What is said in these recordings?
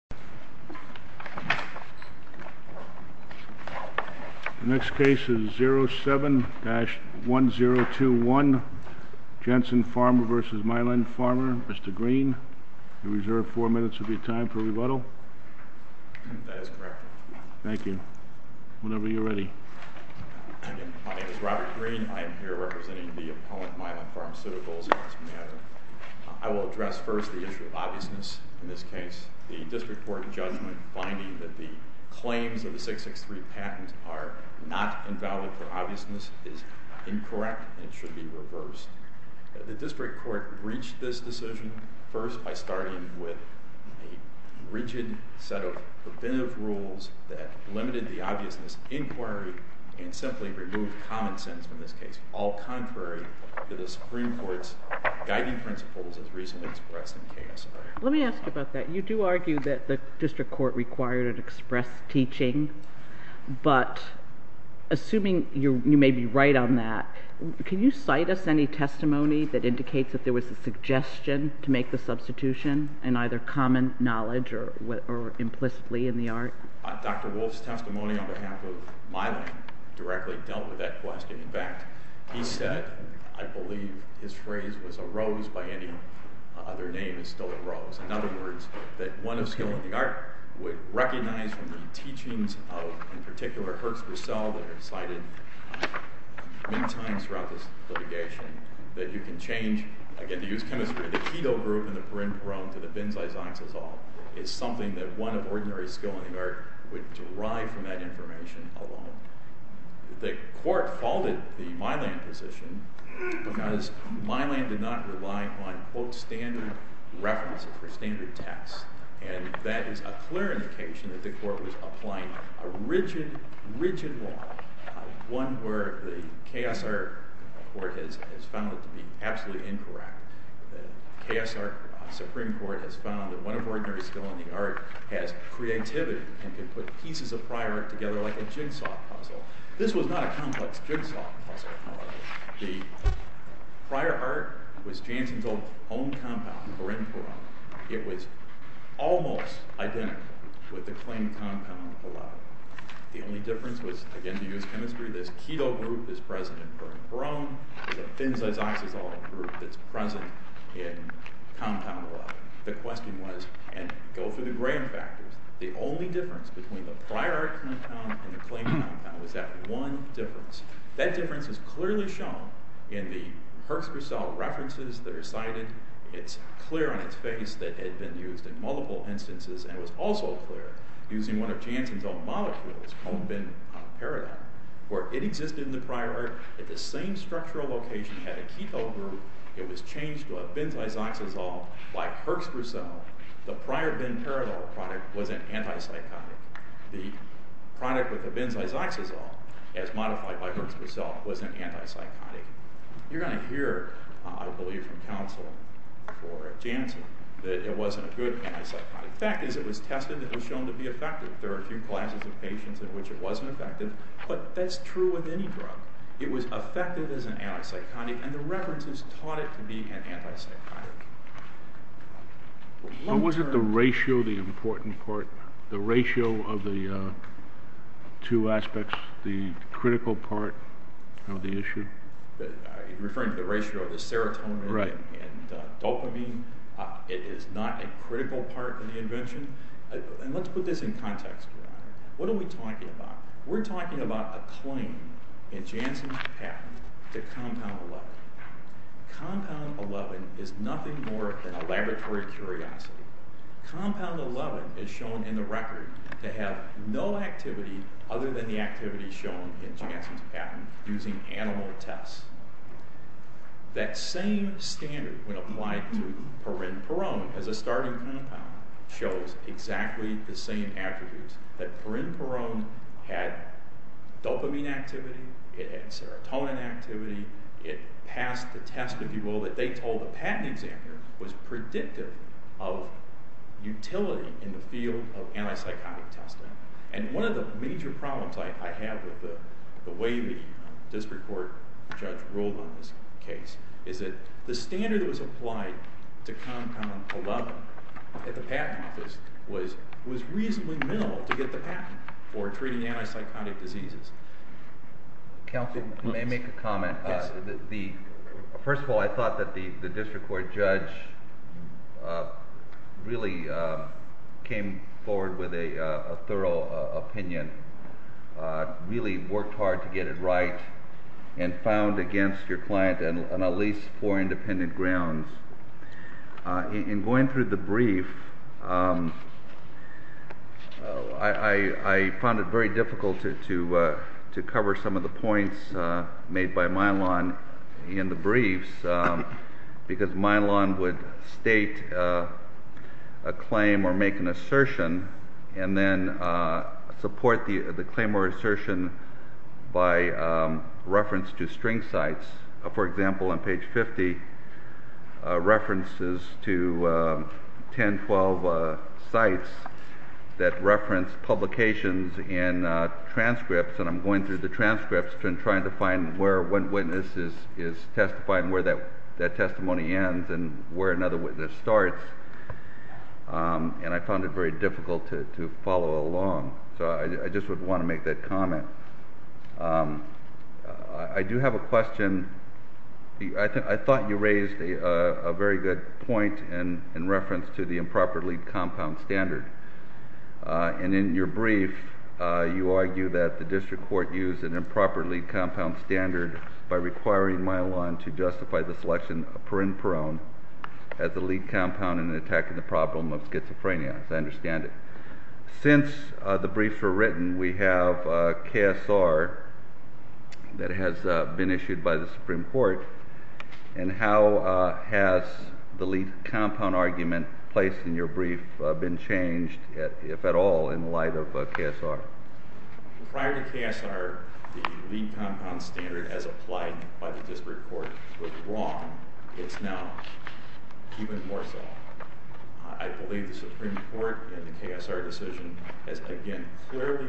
Mr. Green, you are reserved four minutes of your time for rebuttal. That is correct. Thank you. Whenever you are ready. My name is Robert Green. I am here representing the opponent, Mylan Pharmaceuticals, in this matter. I will address first the issue of obviousness in this case. The district court in judgment finding that the claims of the 663 patent are not invalid for obviousness is incorrect and should be reversed. The district court breached this decision first by starting with a rigid set of preventive rules that limited the obviousness inquiry and simply removed common sense in this case, all contrary to the Supreme Court's guiding principles as recently expressed in KSR. Let me ask you about that. You do argue that the district court required an express teaching, but assuming you may be right on that, can you cite us any testimony that indicates that there was a suggestion to make the substitution in either common knowledge or implicitly in the art? Dr. Wolf's testimony on behalf of Mylan directly dealt with that question. In fact, he said, I believe his phrase was a rose by any other name is still a rose. In other words, that one of skill in the art would recognize from the teachings of, in particular, Hertz Broussel that are cited many times throughout this litigation, that you can change, again to use chemistry, the keto group in the perineum to the benzyloxazole is something that one of ordinary skill in the art would derive from that information alone. The court faulted the Mylan position because Mylan did not rely on quote standard references for standard tests. And that is a clear indication that the court was applying a rigid, rigid law. One where the KSR court has found it to be absolutely incorrect. The KSR Supreme Court has found that one of ordinary skill in the art has creativity and can put pieces of prior art together like a jigsaw puzzle. This was not a complex jigsaw puzzle. The prior art was Jansen's own compound perineum peroneum. It was almost identical with the claimed compound below. The only difference was, again to use chemistry, this keto group is present in perineum peroneum. The benzyloxazole group is present in compound below. The question was, and go through the gram factors, the only difference between the prior compound and the claimed compound was that one difference. That difference is clearly shown in the Herxger cell references that are cited. It's clear on its face that it had been used in multiple instances and was also clear using one of Jansen's own molecules called benparadol where it existed in the prior art at the same structural location. It had a keto group. It was changed to a benzyloxazole like Herxger cell. The prior benparadol product was an antipsychotic. The product with the benzyloxazole as modified by Herxger cell was an antipsychotic. You're going to hear, I believe, from counsel for Jansen that it wasn't a good antipsychotic. The fact is it was tested and it was shown to be effective. There are a few classes of patients in which it wasn't effective, but that's true with any drug. It was effective as an antipsychotic and the references taught it to be an antipsychotic. But wasn't the ratio the important part? The ratio of the two aspects the critical part of the issue? You're referring to the ratio of the serotonin and dopamine. It is not a critical part of the invention. Let's put this in context. What are we talking about? We're talking about a claim in Jansen's patent to compound 11. Compound 11 is nothing more than a laboratory curiosity. Compound 11 is shown in the record to have no activity other than the activity shown in Jansen's patent using animal tests. That same standard when applied to parinperone as a starting compound shows exactly the same attributes that parinperone had dopamine activity, it had serotonin activity, it passed the test if you will that they told the patent examiner was predictive of utility in the field of antipsychotic testing. One of the major problems I have with the way the district court judge ruled on this case is that the standard that was applied to compound 11 at the patent office was reasonably minimal to get the patent for treating antipsychotic diseases. Counsel may make a comment. First of all, I thought that the district court judge really came forward with a thorough opinion, really worked hard to get it right and found against your client on at least four independent grounds. In going through the brief, I found it very difficult to cover some of the points made by Milan in the briefs because Milan would state a claim or make an assertion and then support the claim or assertion by reference to string sites. For example, on page 50, references to 10, 12 sites that reference publications in transcripts and I'm going through the transcripts and trying to find where one witness is testifying where that testimony ends and where another witness starts and I found it very difficult to follow along. I just would want to make that comment. I do have a question. I thought you raised a very good point in reference to the improperly compound standard and in your brief, you argue that the district court used an improperly compound standard by requiring Milan to justify the selection of parinperone as the lead compound in attacking the problem of schizophrenia, as I understand it. Since the briefs were written, we have KSR that has been issued by the Supreme Court and how has the lead compound argument placed in your brief been changed, if at all, in light of KSR? Prior to KSR, the lead compound standard as applied by the district court was wrong. It's now even more so. I believe the Supreme Court in the KSR decision has again clearly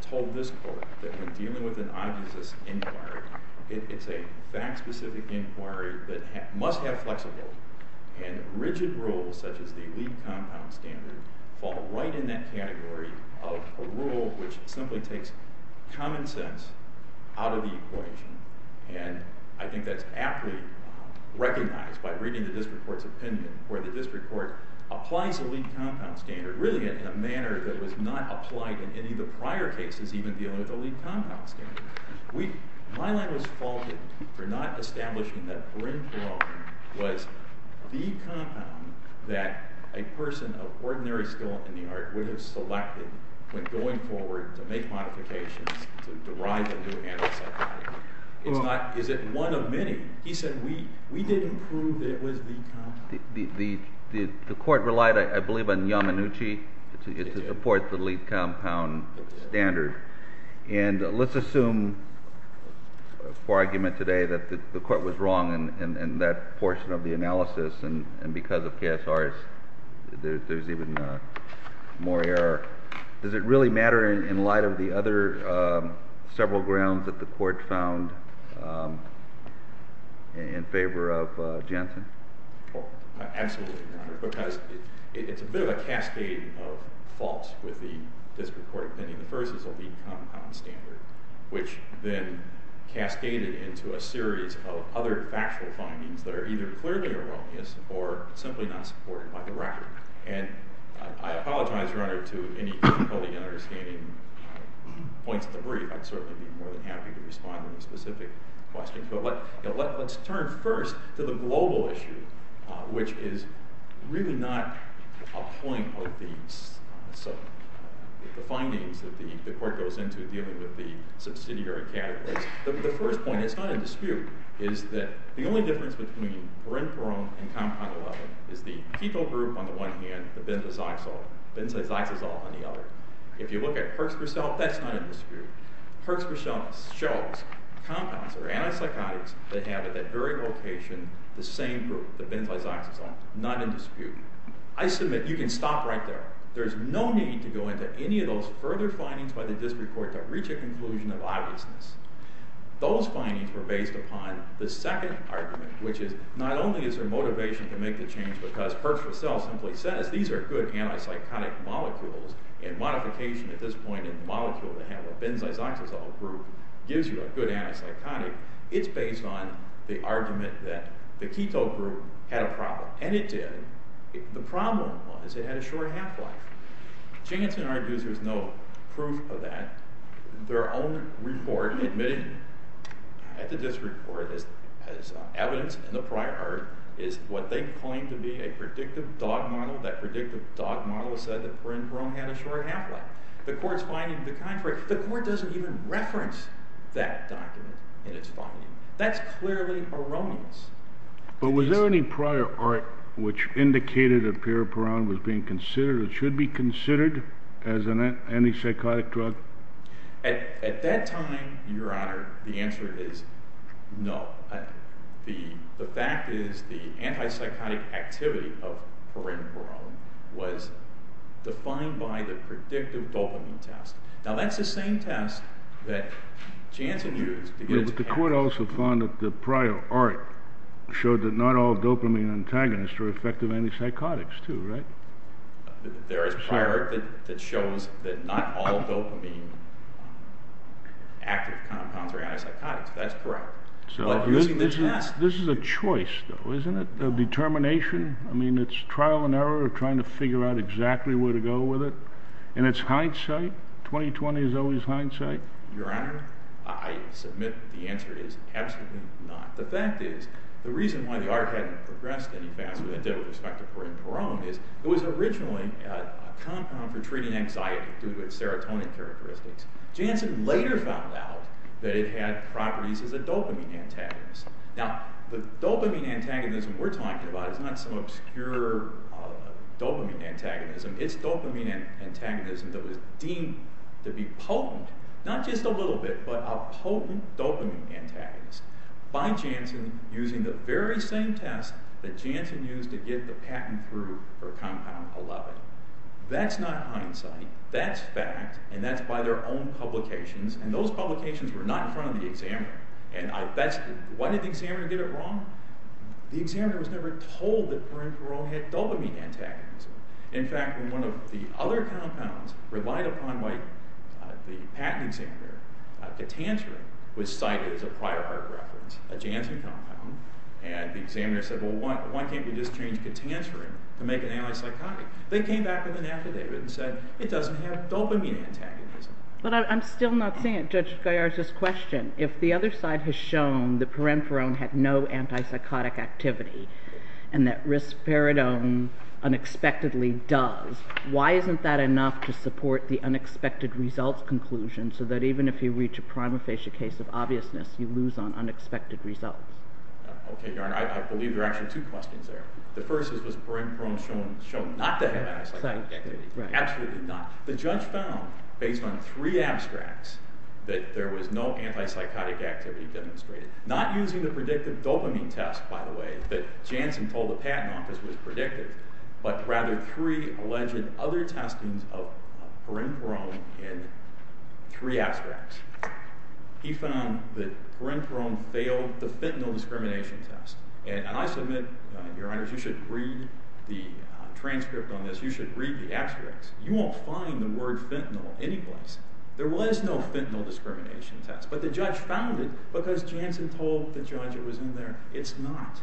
told this court that when dealing with an obvious inquiry, it's a fact specific inquiry that must have flexibility and rigid rules such as the lead compound standard fall right in that category of a rule which simply takes common sense out of the equation and I think that's aptly recognized by reading the district court's opinion where the district court applies the lead compound standard really in a manner that was not applied in any of the prior cases even dealing with the lead compound standard. Milan was faulted for not establishing that parinperone was the compound that a person of ordinary skill in the art would have selected when going forward to make modifications to derive a new antipsychotic. Is it one of many? He said we didn't prove that it was the compound. The court relied, I believe, on Yamanuchi to support the lead compound standard and let's assume for argument today that the court was wrong in that portion of the analysis and because of KSR there's even more error. Does it really matter in light of the other several grounds that the court found in favor of Jansen? Absolutely, Your Honor, because it's a bit of a cascade of faults with the district court opinion. The first is the lead compound standard which then cascaded into a series of other factual findings that are either clearly erroneous or simply not supported by the record. And I apologize, Your Honor, to any difficulty in understanding points of the brief. I'd certainly be more than happy to respond to a specific question. But let's turn first to the global issue which is really not a point of the findings that the court goes into dealing with the subsidiary categories. The first point, it's not a dispute, is that the only difference between parinperone and the benzazoxazole on the other. If you look at Perks-Purcell, that's not a dispute. Perks-Purcell shows compounds or antipsychotics that have at that very location the same group, the benzazoxazole, not in dispute. I submit you can stop right there. There's no need to go into any of those further findings by the district court to reach a conclusion of obviousness. Those findings were based upon the second argument which is not only is there motivation to make the change because Perks-Purcell simply says these are good antipsychotic molecules and modification at this point in the molecule to have a benzazoxazole group gives you a good antipsychotic. It's based on the argument that the keto group had a problem. And it did. The problem was it had a short half-life. Jansen argues there's no proof of that. Their own report admitted at the district court as evidence in the prior art is what they claim to be a predictive dog model. That predictive dog model said that Perone had a short half-life. The court's finding is the contrary. The court doesn't even reference that document in its finding. That's clearly erroneous. But was there any prior art which indicated a pair of Perone was being considered or should be considered as an antipsychotic drug? At that time, Your Honor, the answer is no. The fact is the antipsychotic activity of Perone was defined by the predictive dopamine test. Now that's the same test that Jansen used. But the court also found that the prior art showed that not all dopamine antagonists are effective antipsychotics too, right? There is prior art that shows that not all dopamine active compounds are antipsychotics. That's correct. This is a choice, though, isn't it? A determination? I mean, it's trial and error of trying to figure out exactly where to go with it. And it's hindsight? Twenty-twenty is always hindsight? Your Honor, I submit the answer is absolutely not. The fact is the reason why the art hadn't progressed any faster than it did with respect to Perone is it was originally a compound for treating anxiety due to its serotonin characteristics. Jansen later found out that it had properties as a dopamine antagonist. Now, the dopamine antagonism we're talking about is not some obscure dopamine antagonism. It's dopamine antagonism that was deemed to be potent, not just a little bit, but a potent dopamine antagonist by Jansen using the very same test that Jansen used to get the patent through for compound 11. That's not hindsight. That's fact. And that's by their own publications. And those publications were not in front of the examiner. And why did the examiner get it wrong? The examiner was never told that Perone had dopamine antagonism. In fact, when one of the other compounds relied upon what the patent examiner, catanserin, was cited as a prior art reference, a Jansen compound, and the examiner said, well, why can't you just change catanserin to make an anti-psychotic? They came back with an affidavit and said, it doesn't have dopamine antagonism. But I'm still not seeing it, Judge Gaillard's question. If the other side has shown that parenferone had no anti-psychotic activity, and that risperidone unexpectedly does, why isn't that enough to support the unexpected results conclusion so that even if you reach a prima facie case of obviousness, you lose on unexpected results? OK, Your Honor. I believe there are actually two questions there. The first is, was parenferone shown not to have anti-psychotic activity? Absolutely not. The judge found, based on three abstracts, that there was no anti-psychotic activity demonstrated. Not using the predictive dopamine test, by the way, that Jansen told the patent office was predictive, but rather three alleged other testings of parenferone in three abstracts. He found that parenferone failed the fentanyl discrimination test. And I submit, Your Honor, you should read the transcript on this. You should read the abstracts. You won't find the word fentanyl anyplace. There was no fentanyl discrimination test. But the judge found it because Jansen told the judge it was in there. It's not.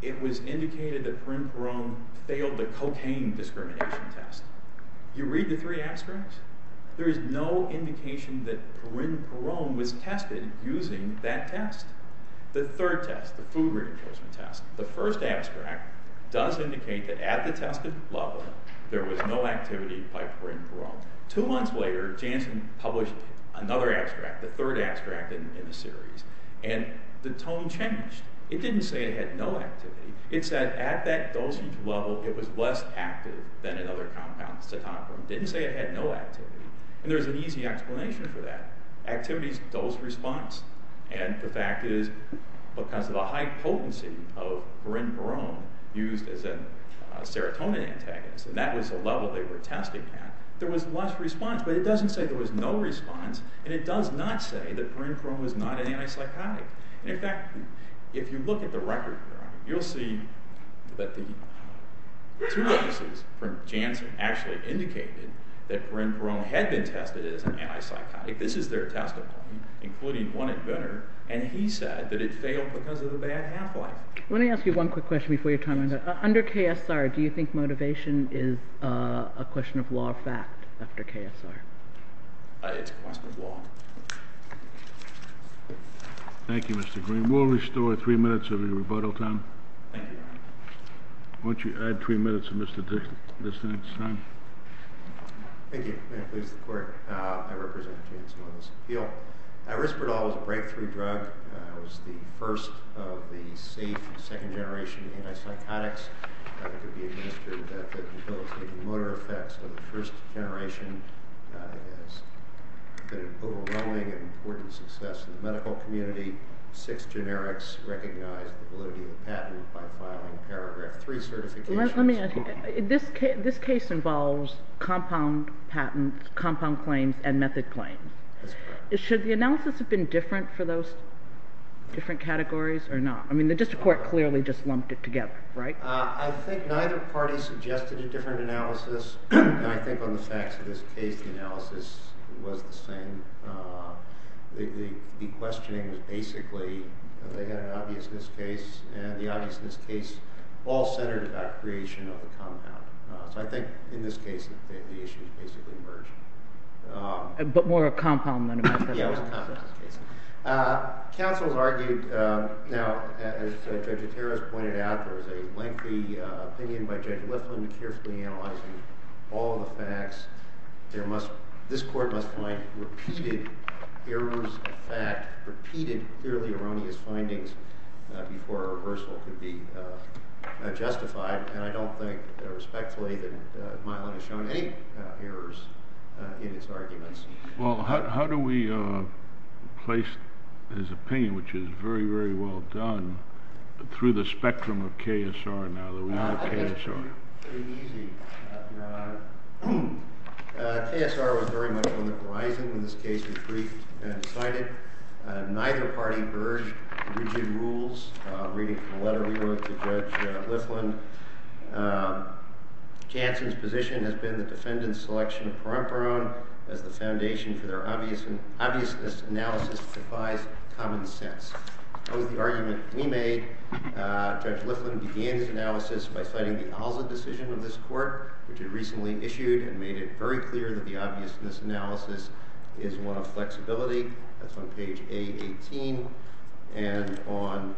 It was indicated that parenferone failed the cocaine discrimination test. You read the three abstracts? There is no indication that parenferone was tested using that test. The third test, the food reenforcement test, the first abstract does indicate that at the tested level, there was no activity of parenferone. Two months later, Jansen published another abstract, the third abstract in the series. And the tone changed. It didn't say it had no activity. It said at that dosage level, it was less active than another compound, cetonaferone. It didn't say it had no activity. And there's an easy explanation for that. Activity is dose response. And the fact is, because of the high potency of parenferone used as a serotonin antagonist, and that was the level they were testing at, there was less response. But it doesn't say there was no response. And it does not say that parenferone was not an antipsychotic. In fact, if you look at the record here, you'll see that the two offices from Jansen actually indicated that parenferone had been tested as an antipsychotic. This is their testimony, including one inventor. And he said that it failed because of the bad half-life. Let me ask you one quick question before your time runs out. Under KSR, do you think motivation is a question of law or fact after KSR? It's a question of law. Thank you, Mr. Green. We'll restore three minutes of your rebuttal time. Thank you, Your Honor. Why don't you add three minutes of Mr. Dixon's time. Thank you. May it please the Court. I represent Jansen on this appeal. Risperdal is a breakthrough drug. It was the first of the safe second-generation antipsychotics. It could be administered that the mobility and motor effects of the first generation has been an overwhelming and important success in the medical community. Six generics recognized the validity of the patent by filing Paragraph 3 certifications. This case involves compound patents, compound claims, and method claims. That's correct. Should the analysis have been different for those different categories or not? I mean, the district court clearly just lumped it together, right? I think neither party suggested a different analysis. And I think on the facts of this case, the analysis was the same. The questioning was basically they had an obviousness case. And the obviousness case all centered about creation of the compound. So I think in this case, the issues basically merged. But more a compound than a method? Yeah, it was a compound case. Counsel has argued, now, as Judge Otero has pointed out, there was a lengthy opinion by Judge Liflin carefully analyzing all the facts. This court must find repeated errors of fact, repeated clearly erroneous findings before a reversal could be justified. And I don't think, respectfully, that Mylon has shown any errors in his arguments. Well, how do we place his opinion, which is very, very well done, through the spectrum of KSR now that we have KSR? I think that's pretty easy. KSR was very much on the horizon when this case was briefed and decided. Neither party urged rigid rules. Reading from a letter we wrote to Judge Liflin, Jansen's position has been the defendant's selection of Perumperon as the foundation for their obviousness analysis defies common sense. That was the argument we made. Judge Liflin began his analysis by citing the Alza decision of this court, which he recently issued and made it very clear that the obviousness analysis is one of flexibility. That's on page A18. And on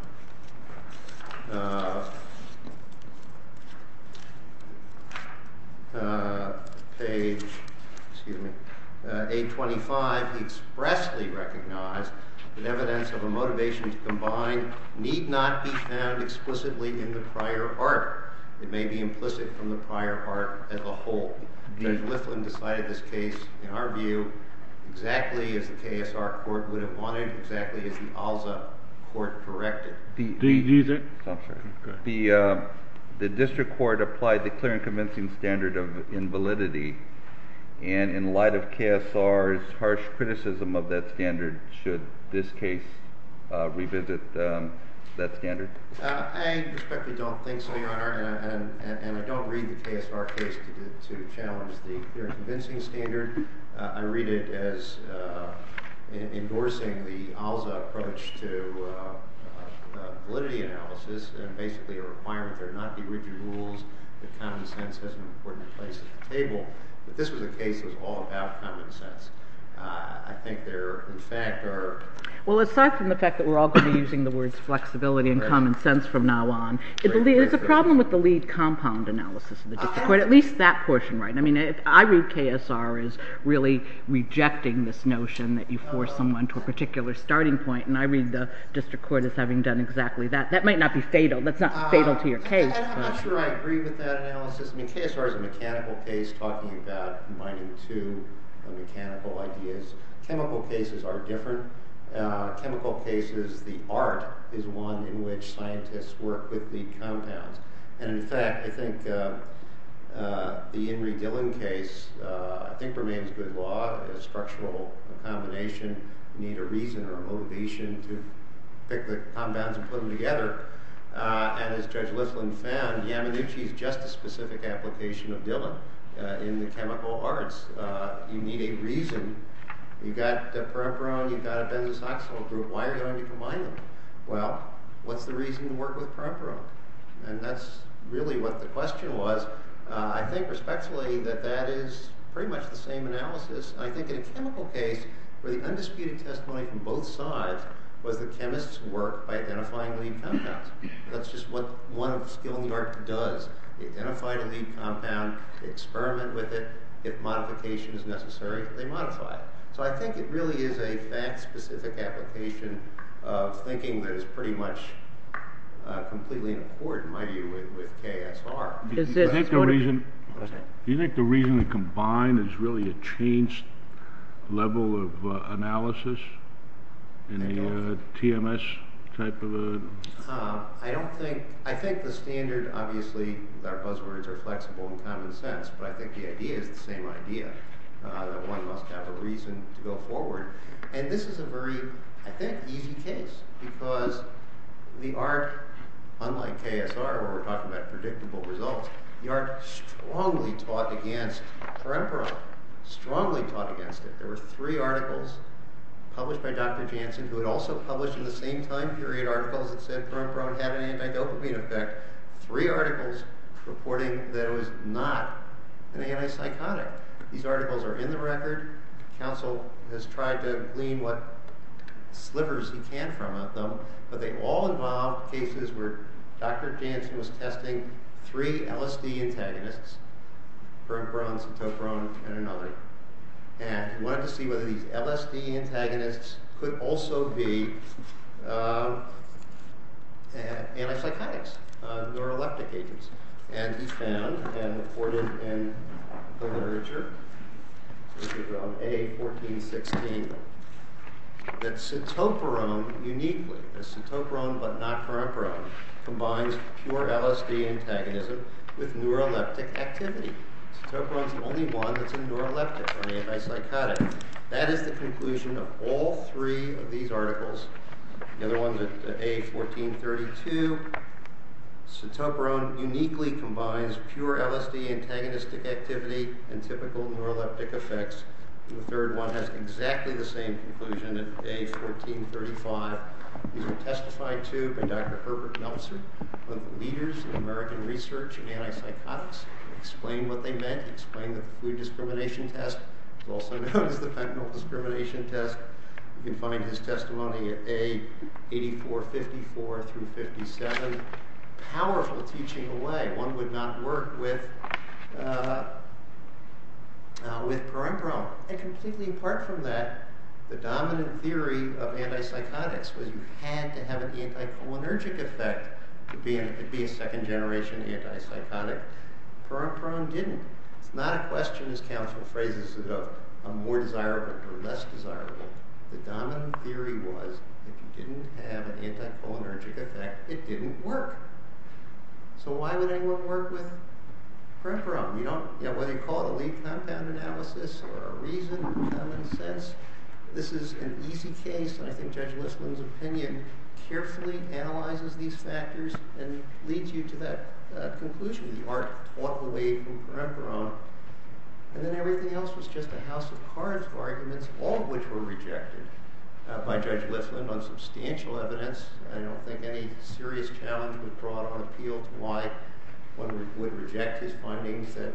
page A25, he expressly recognized that evidence of a motivation to combine need not be found explicitly in the prior art. It may be implicit from the prior art as a whole. Judge Liflin decided this case, in our view, exactly as the KSR court would have wanted, exactly as the Alza court corrected. The district court applied the clear and convincing standard of invalidity. And in light of KSR's harsh criticism of that standard, should this case revisit that standard? I respectfully don't think so, Your Honor. And I don't read the KSR case to challenge the clear and convincing standard. I read it as endorsing the Alza approach to validity analysis, and basically a requirement there not be rigid rules, that common sense has an important place at the table. But this was a case that was all about common sense. I think there, in fact, are... Well, aside from the fact that we're all going to be using the words flexibility and common sense from now on, there's a problem with the lead compound analysis of the district court. At least that portion, right? I mean, I read KSR as really rejecting this notion that you force someone to a particular starting point, and I read the district court as having done exactly that. That might not be fatal. That's not fatal to your case. I'm not sure I agree with that analysis. I mean, KSR is a mechanical case talking about combining two mechanical ideas. Chemical cases are different. Chemical cases, the art is one in which scientists work with the compounds. And, in fact, I think the Henry Dillon case, I think, remains good law. It's a structural combination. You need a reason or a motivation to pick the compounds and put them together. And as Judge Lislin found, Yamanuchi's just a specific application of Dillon in the chemical arts. You need a reason. You've got a perepiron, you've got a benzoxyl group. Why are you going to combine them? Well, what's the reason to work with perepiron? And that's really what the question was. I think respectfully that that is pretty much the same analysis. I think in a chemical case, where the undisputed testimony from both sides was the chemists work by identifying lead compounds. That's just what one skill in the art does. Identify the lead compound, experiment with it, if modification is necessary, they modify it. So I think it really is a fact-specific application of thinking that is pretty much completely in accord, in my view, with KSR. Do you think the reason to combine is really a changed level of analysis? In the TMS type of a... I don't think... I think the standard, obviously, our buzzwords are flexible and common sense, but I think the idea is the same idea, that one must have a reason to go forward. And this is a very, I think, easy case, because the art, unlike KSR, where we're talking about predictable results, the art strongly taught against perepiron, strongly taught against it. There were three articles published by Dr. Jansen, who had also published in the same time period articles that said perepiron had an antidopamine effect. Three articles reporting that it was not an antipsychotic. These articles are in the record. Council has tried to glean what slivers he can from them, but they all involve cases where Dr. Jansen was testing three LSD antagonists, perepiron, centopiron, and another. And he wanted to see whether these LSD antagonists could also be antipsychotics. And he found, and reported in the literature, A1416, that centopiron uniquely, centopiron but not perepiron, combines pure LSD antagonism with neuroleptic activity. Centopiron's the only one that's a neuroleptic, an antipsychotic. That is the conclusion of all three of these articles. The other one, A1432, centopiron uniquely combines pure LSD antagonistic activity and typical neuroleptic effects. The third one has exactly the same conclusion, A1435. These were testified to by Dr. Herbert Nelson, one of the leaders in American research in antipsychotics. He explained what they meant. He explained the food discrimination test. It's also known as the fentanyl discrimination test. You can find his testimony at A8454-57. Powerful teaching away. One would not work with perepiron. And completely apart from that, the dominant theory of antipsychotics was you had to have an anticholinergic effect to be a second-generation antipsychotic. Perepiron didn't. It's not a question as counsel phrases it of a more desirable or less desirable. The dominant theory was if you didn't have an anticholinergic effect, it didn't work. So why would anyone work with perepiron? Whether you call it a lead compound analysis or a reason, common sense, this is an easy case. I think Judge Listman's opinion carefully analyzes these factors and leads you to that conclusion. The art taught away from perepiron. And then everything else was just a house of cards of arguments, all of which were rejected by Judge Listman on substantial evidence. I don't think any serious challenge would draw it on appeal to why one would reject his findings that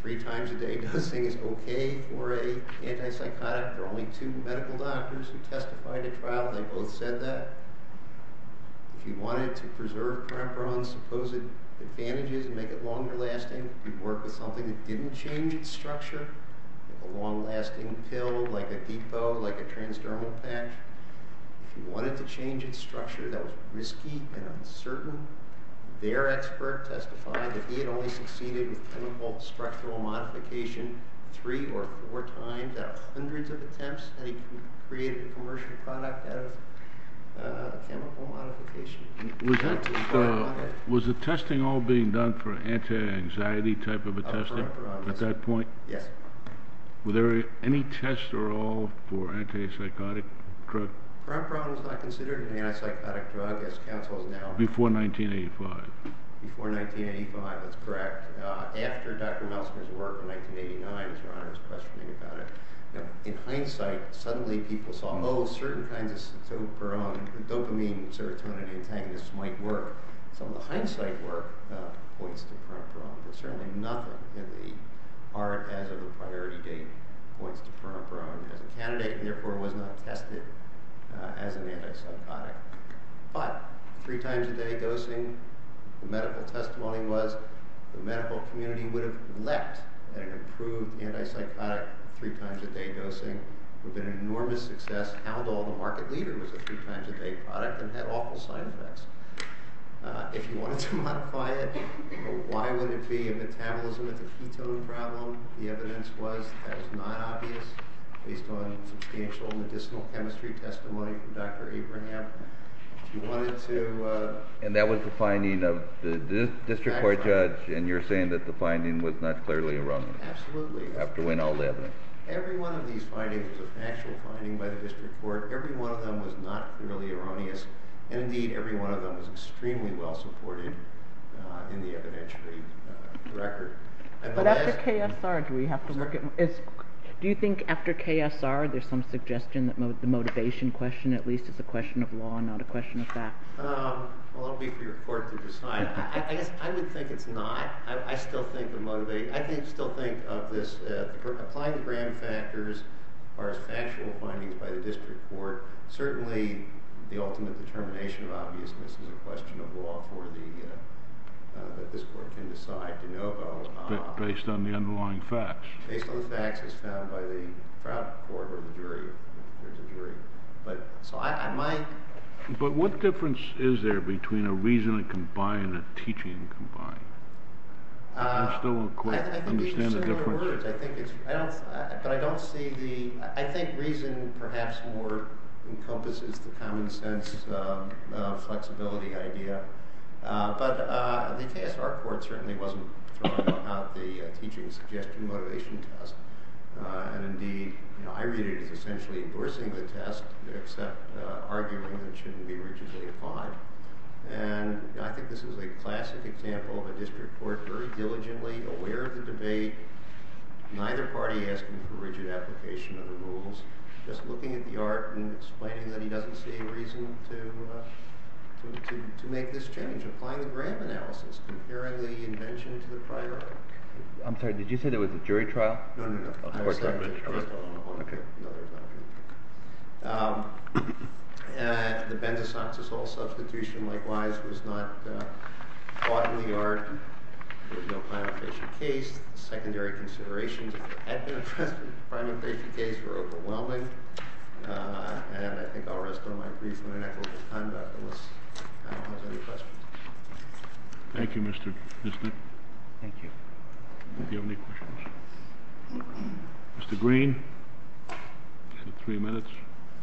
three times a day dosing is okay for an antipsychotic. There are only two medical doctors who testified at trial. They both said that. If you wanted to preserve perepiron's supposed advantages and make it longer-lasting, you'd work with something that didn't change its structure, a long-lasting pill like Adipo, like a transdermal patch. If you wanted to change its structure that was risky and uncertain, their expert testified that he had only succeeded with chemical structural modification three or four times out of hundreds of attempts and he created a commercial product out of chemical modification. Was the testing all being done for anti-anxiety type of a testing at that point? Yes. Were there any tests at all for antipsychotic drugs? Perepiron was not considered an antipsychotic drug as counsels know. Before 1985. Before 1985, that's correct. After Dr. Melsker's work in 1989, in hindsight, suddenly people saw, oh, certain kinds of dopamine serotonin antagonists might work. Some of the hindsight work points to Perepiron but certainly nothing in the art as of the priority date points to Perepiron as a candidate and therefore was not tested as an antipsychotic. But, three times a day dosing, the medical testimony was the medical community would have leapt at an improved antipsychotic, three times a day dosing would have been an enormous success had all the market leader was a three times a day product and had awful side effects. If you wanted to modify it, why would it be a metabolism with a ketone problem? The evidence was that was not obvious based on substantial medicinal chemistry testimony from Dr. Abraham. If you wanted to... And that was the finding of the district court judge and you're saying that the finding was not clearly erroneous. Absolutely. After we know the evidence. Every one of these findings was an actual finding by the district court. Every one of them was not clearly erroneous. And indeed, every one of them was extremely well supported in the evidentiary record. But after KSR, do we have to look at... Do you think after KSR there's some suggestion that the motivation question at least is a question of law and not a question of fact? That will be for your court to decide. I would think it's not. I still think of this applying the grand factors as far as factual findings by the district court. Certainly, the ultimate determination of obviousness is a question of law that this court can decide to know about based on the underlying facts. Based on the facts as found by the fraud court or the jury. But what difference is there between a reason and combine and a teaching and combine? I think these are similar words. I think it's... But I don't see the... I think reason perhaps more encompasses the common sense flexibility idea. But the KSR court certainly wasn't throwing out the teaching suggestion motivation test. And indeed, I read it as essentially endorsing the test except arguing that it shouldn't be rigidly applied. And I think this is a classic example of a district court very diligently aware of the debate. Neither party asking for just looking at the art and explaining that he doesn't see any reason to make this change. Applying the grand analysis. Comparing the invention to the primary. I'm sorry, did you say it was a jury trial? No, no, no. Okay. The benzosoxazole substitution likewise was not fought in the yard. There was no final patient case. Secondary considerations had been addressed in the primary patient case were overwhelming. And I think I'll rest on my reasonable and equitable conduct unless panel has any questions. Thank you, Mr. Bisnick. Thank you. Do you have any questions? Mr. Green. You have three minutes.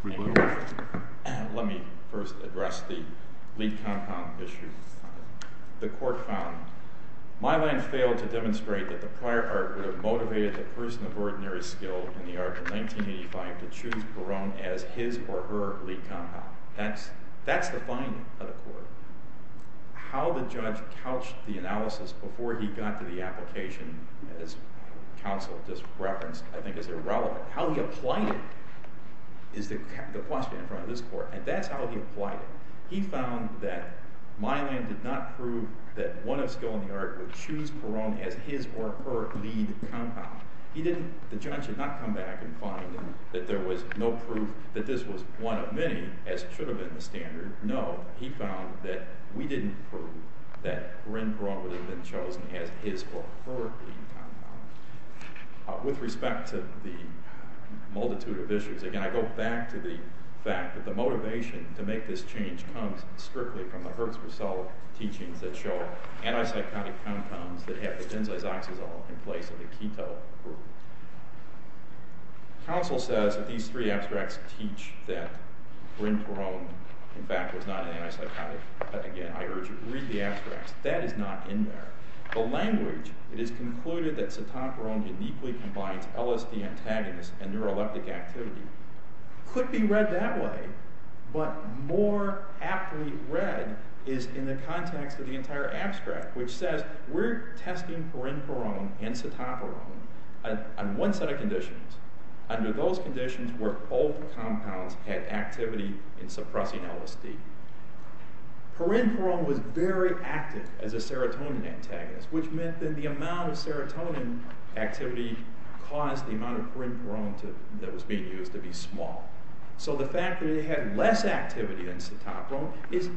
Let me first address the lead compound issue. The court found my line failed to demonstrate that the prior part would have motivated a person of ordinary skill in the art in 1985 to choose Perone as his or her lead compound. That's the finding of the court. How the judge couched the analysis before he got to the application, as counsel just referenced, I think is irrelevant. How he applied it is the question in front of this court. And that's how he applied it. He found that my line did not prove that one of skill in the art would choose Perone as his or her lead compound. The judge did not come back and find that there was no proof that this was one of many, as it should have been the standard. No, he found that we didn't prove that Ren Perone would have been chosen as his or her lead compound. With respect to the multitude of issues, again, I go back to the fact that the motivation to make this change comes strictly from the Herzberg teachings that show antipsychotic compounds that have the benzazoxazole in place of the keto group. Counsel says that these three abstracts teach that Ren Perone in fact was not an antipsychotic. Again, I urge you to read the abstracts. That is not in there. The language, it is concluded that cytoporone uniquely combines LSD antagonists and neuroleptic activity could be read that way, but more aptly read is in the context of the entire abstract, which says we're testing Ren Perone and cytoporone on one set of conditions. Under those conditions were both compounds had activity in suppressing LSD. Ren Perone was very active as a serotonin antagonist, which meant that the amount of serotonin activity caused the amount of Ren Perone that was being used to be small. So the fact that it had less activity than cytoporone is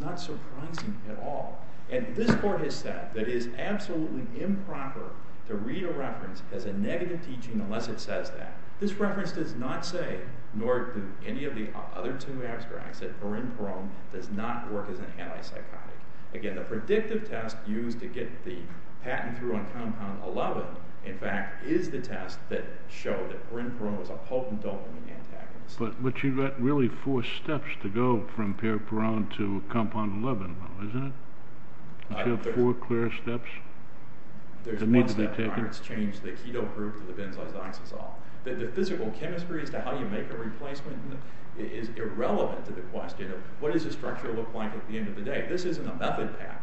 not surprising at all. And this court has said that it is absolutely improper to read a reference as a negative teaching unless it says that. This reference does not say, nor do any of the other two abstracts, that Ren Perone does not work as an antipsychotic. Again, the predictive test used to get the patent through on compound 11 in fact is the test that showed that Ren Perone was a potent dopamine antagonist. But you've got really four steps to go from Perone to You've got four clear steps that need to be taken. There's one step where it's changed the keto group to the benzodiazole. The physical chemistry as to how you make a replacement is irrelevant to the question of what does the structure look like at the end of the day. This isn't a method patent.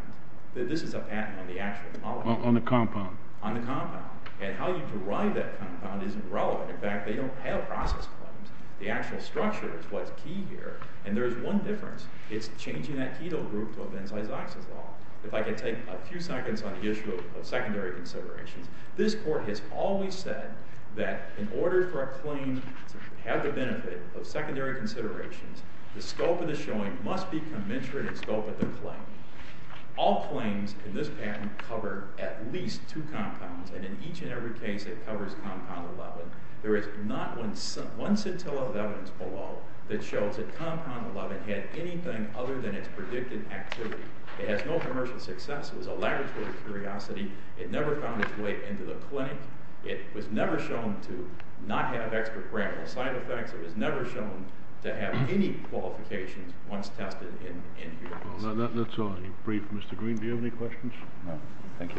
This is a patent on the actual molecule. On the compound. And how you derive that compound isn't relevant. In fact, they don't have process claims. The actual structure is what's key here. And there's one difference. It's changing that keto group to a benzodiazole. If I could take a few seconds on the issue of secondary considerations. This court has always said that in order for a claim to have the benefit of secondary considerations, the scope of the showing must be commensurate with the scope of the claim. All claims in this patent cover at least two compounds. And in each and every case it covers compound 11. There is not one scintilla of evidence below that shows that there is anything other than its predicted activity. It has no commercial success. It was a laboratory curiosity. It never found its way into the clinic. It was never shown to not have extra-parameter side effects. It was never shown to have any qualifications once tested in here. That's all. Mr. Green, do you have any questions? No. Thank you. Thank you, Mr. Green.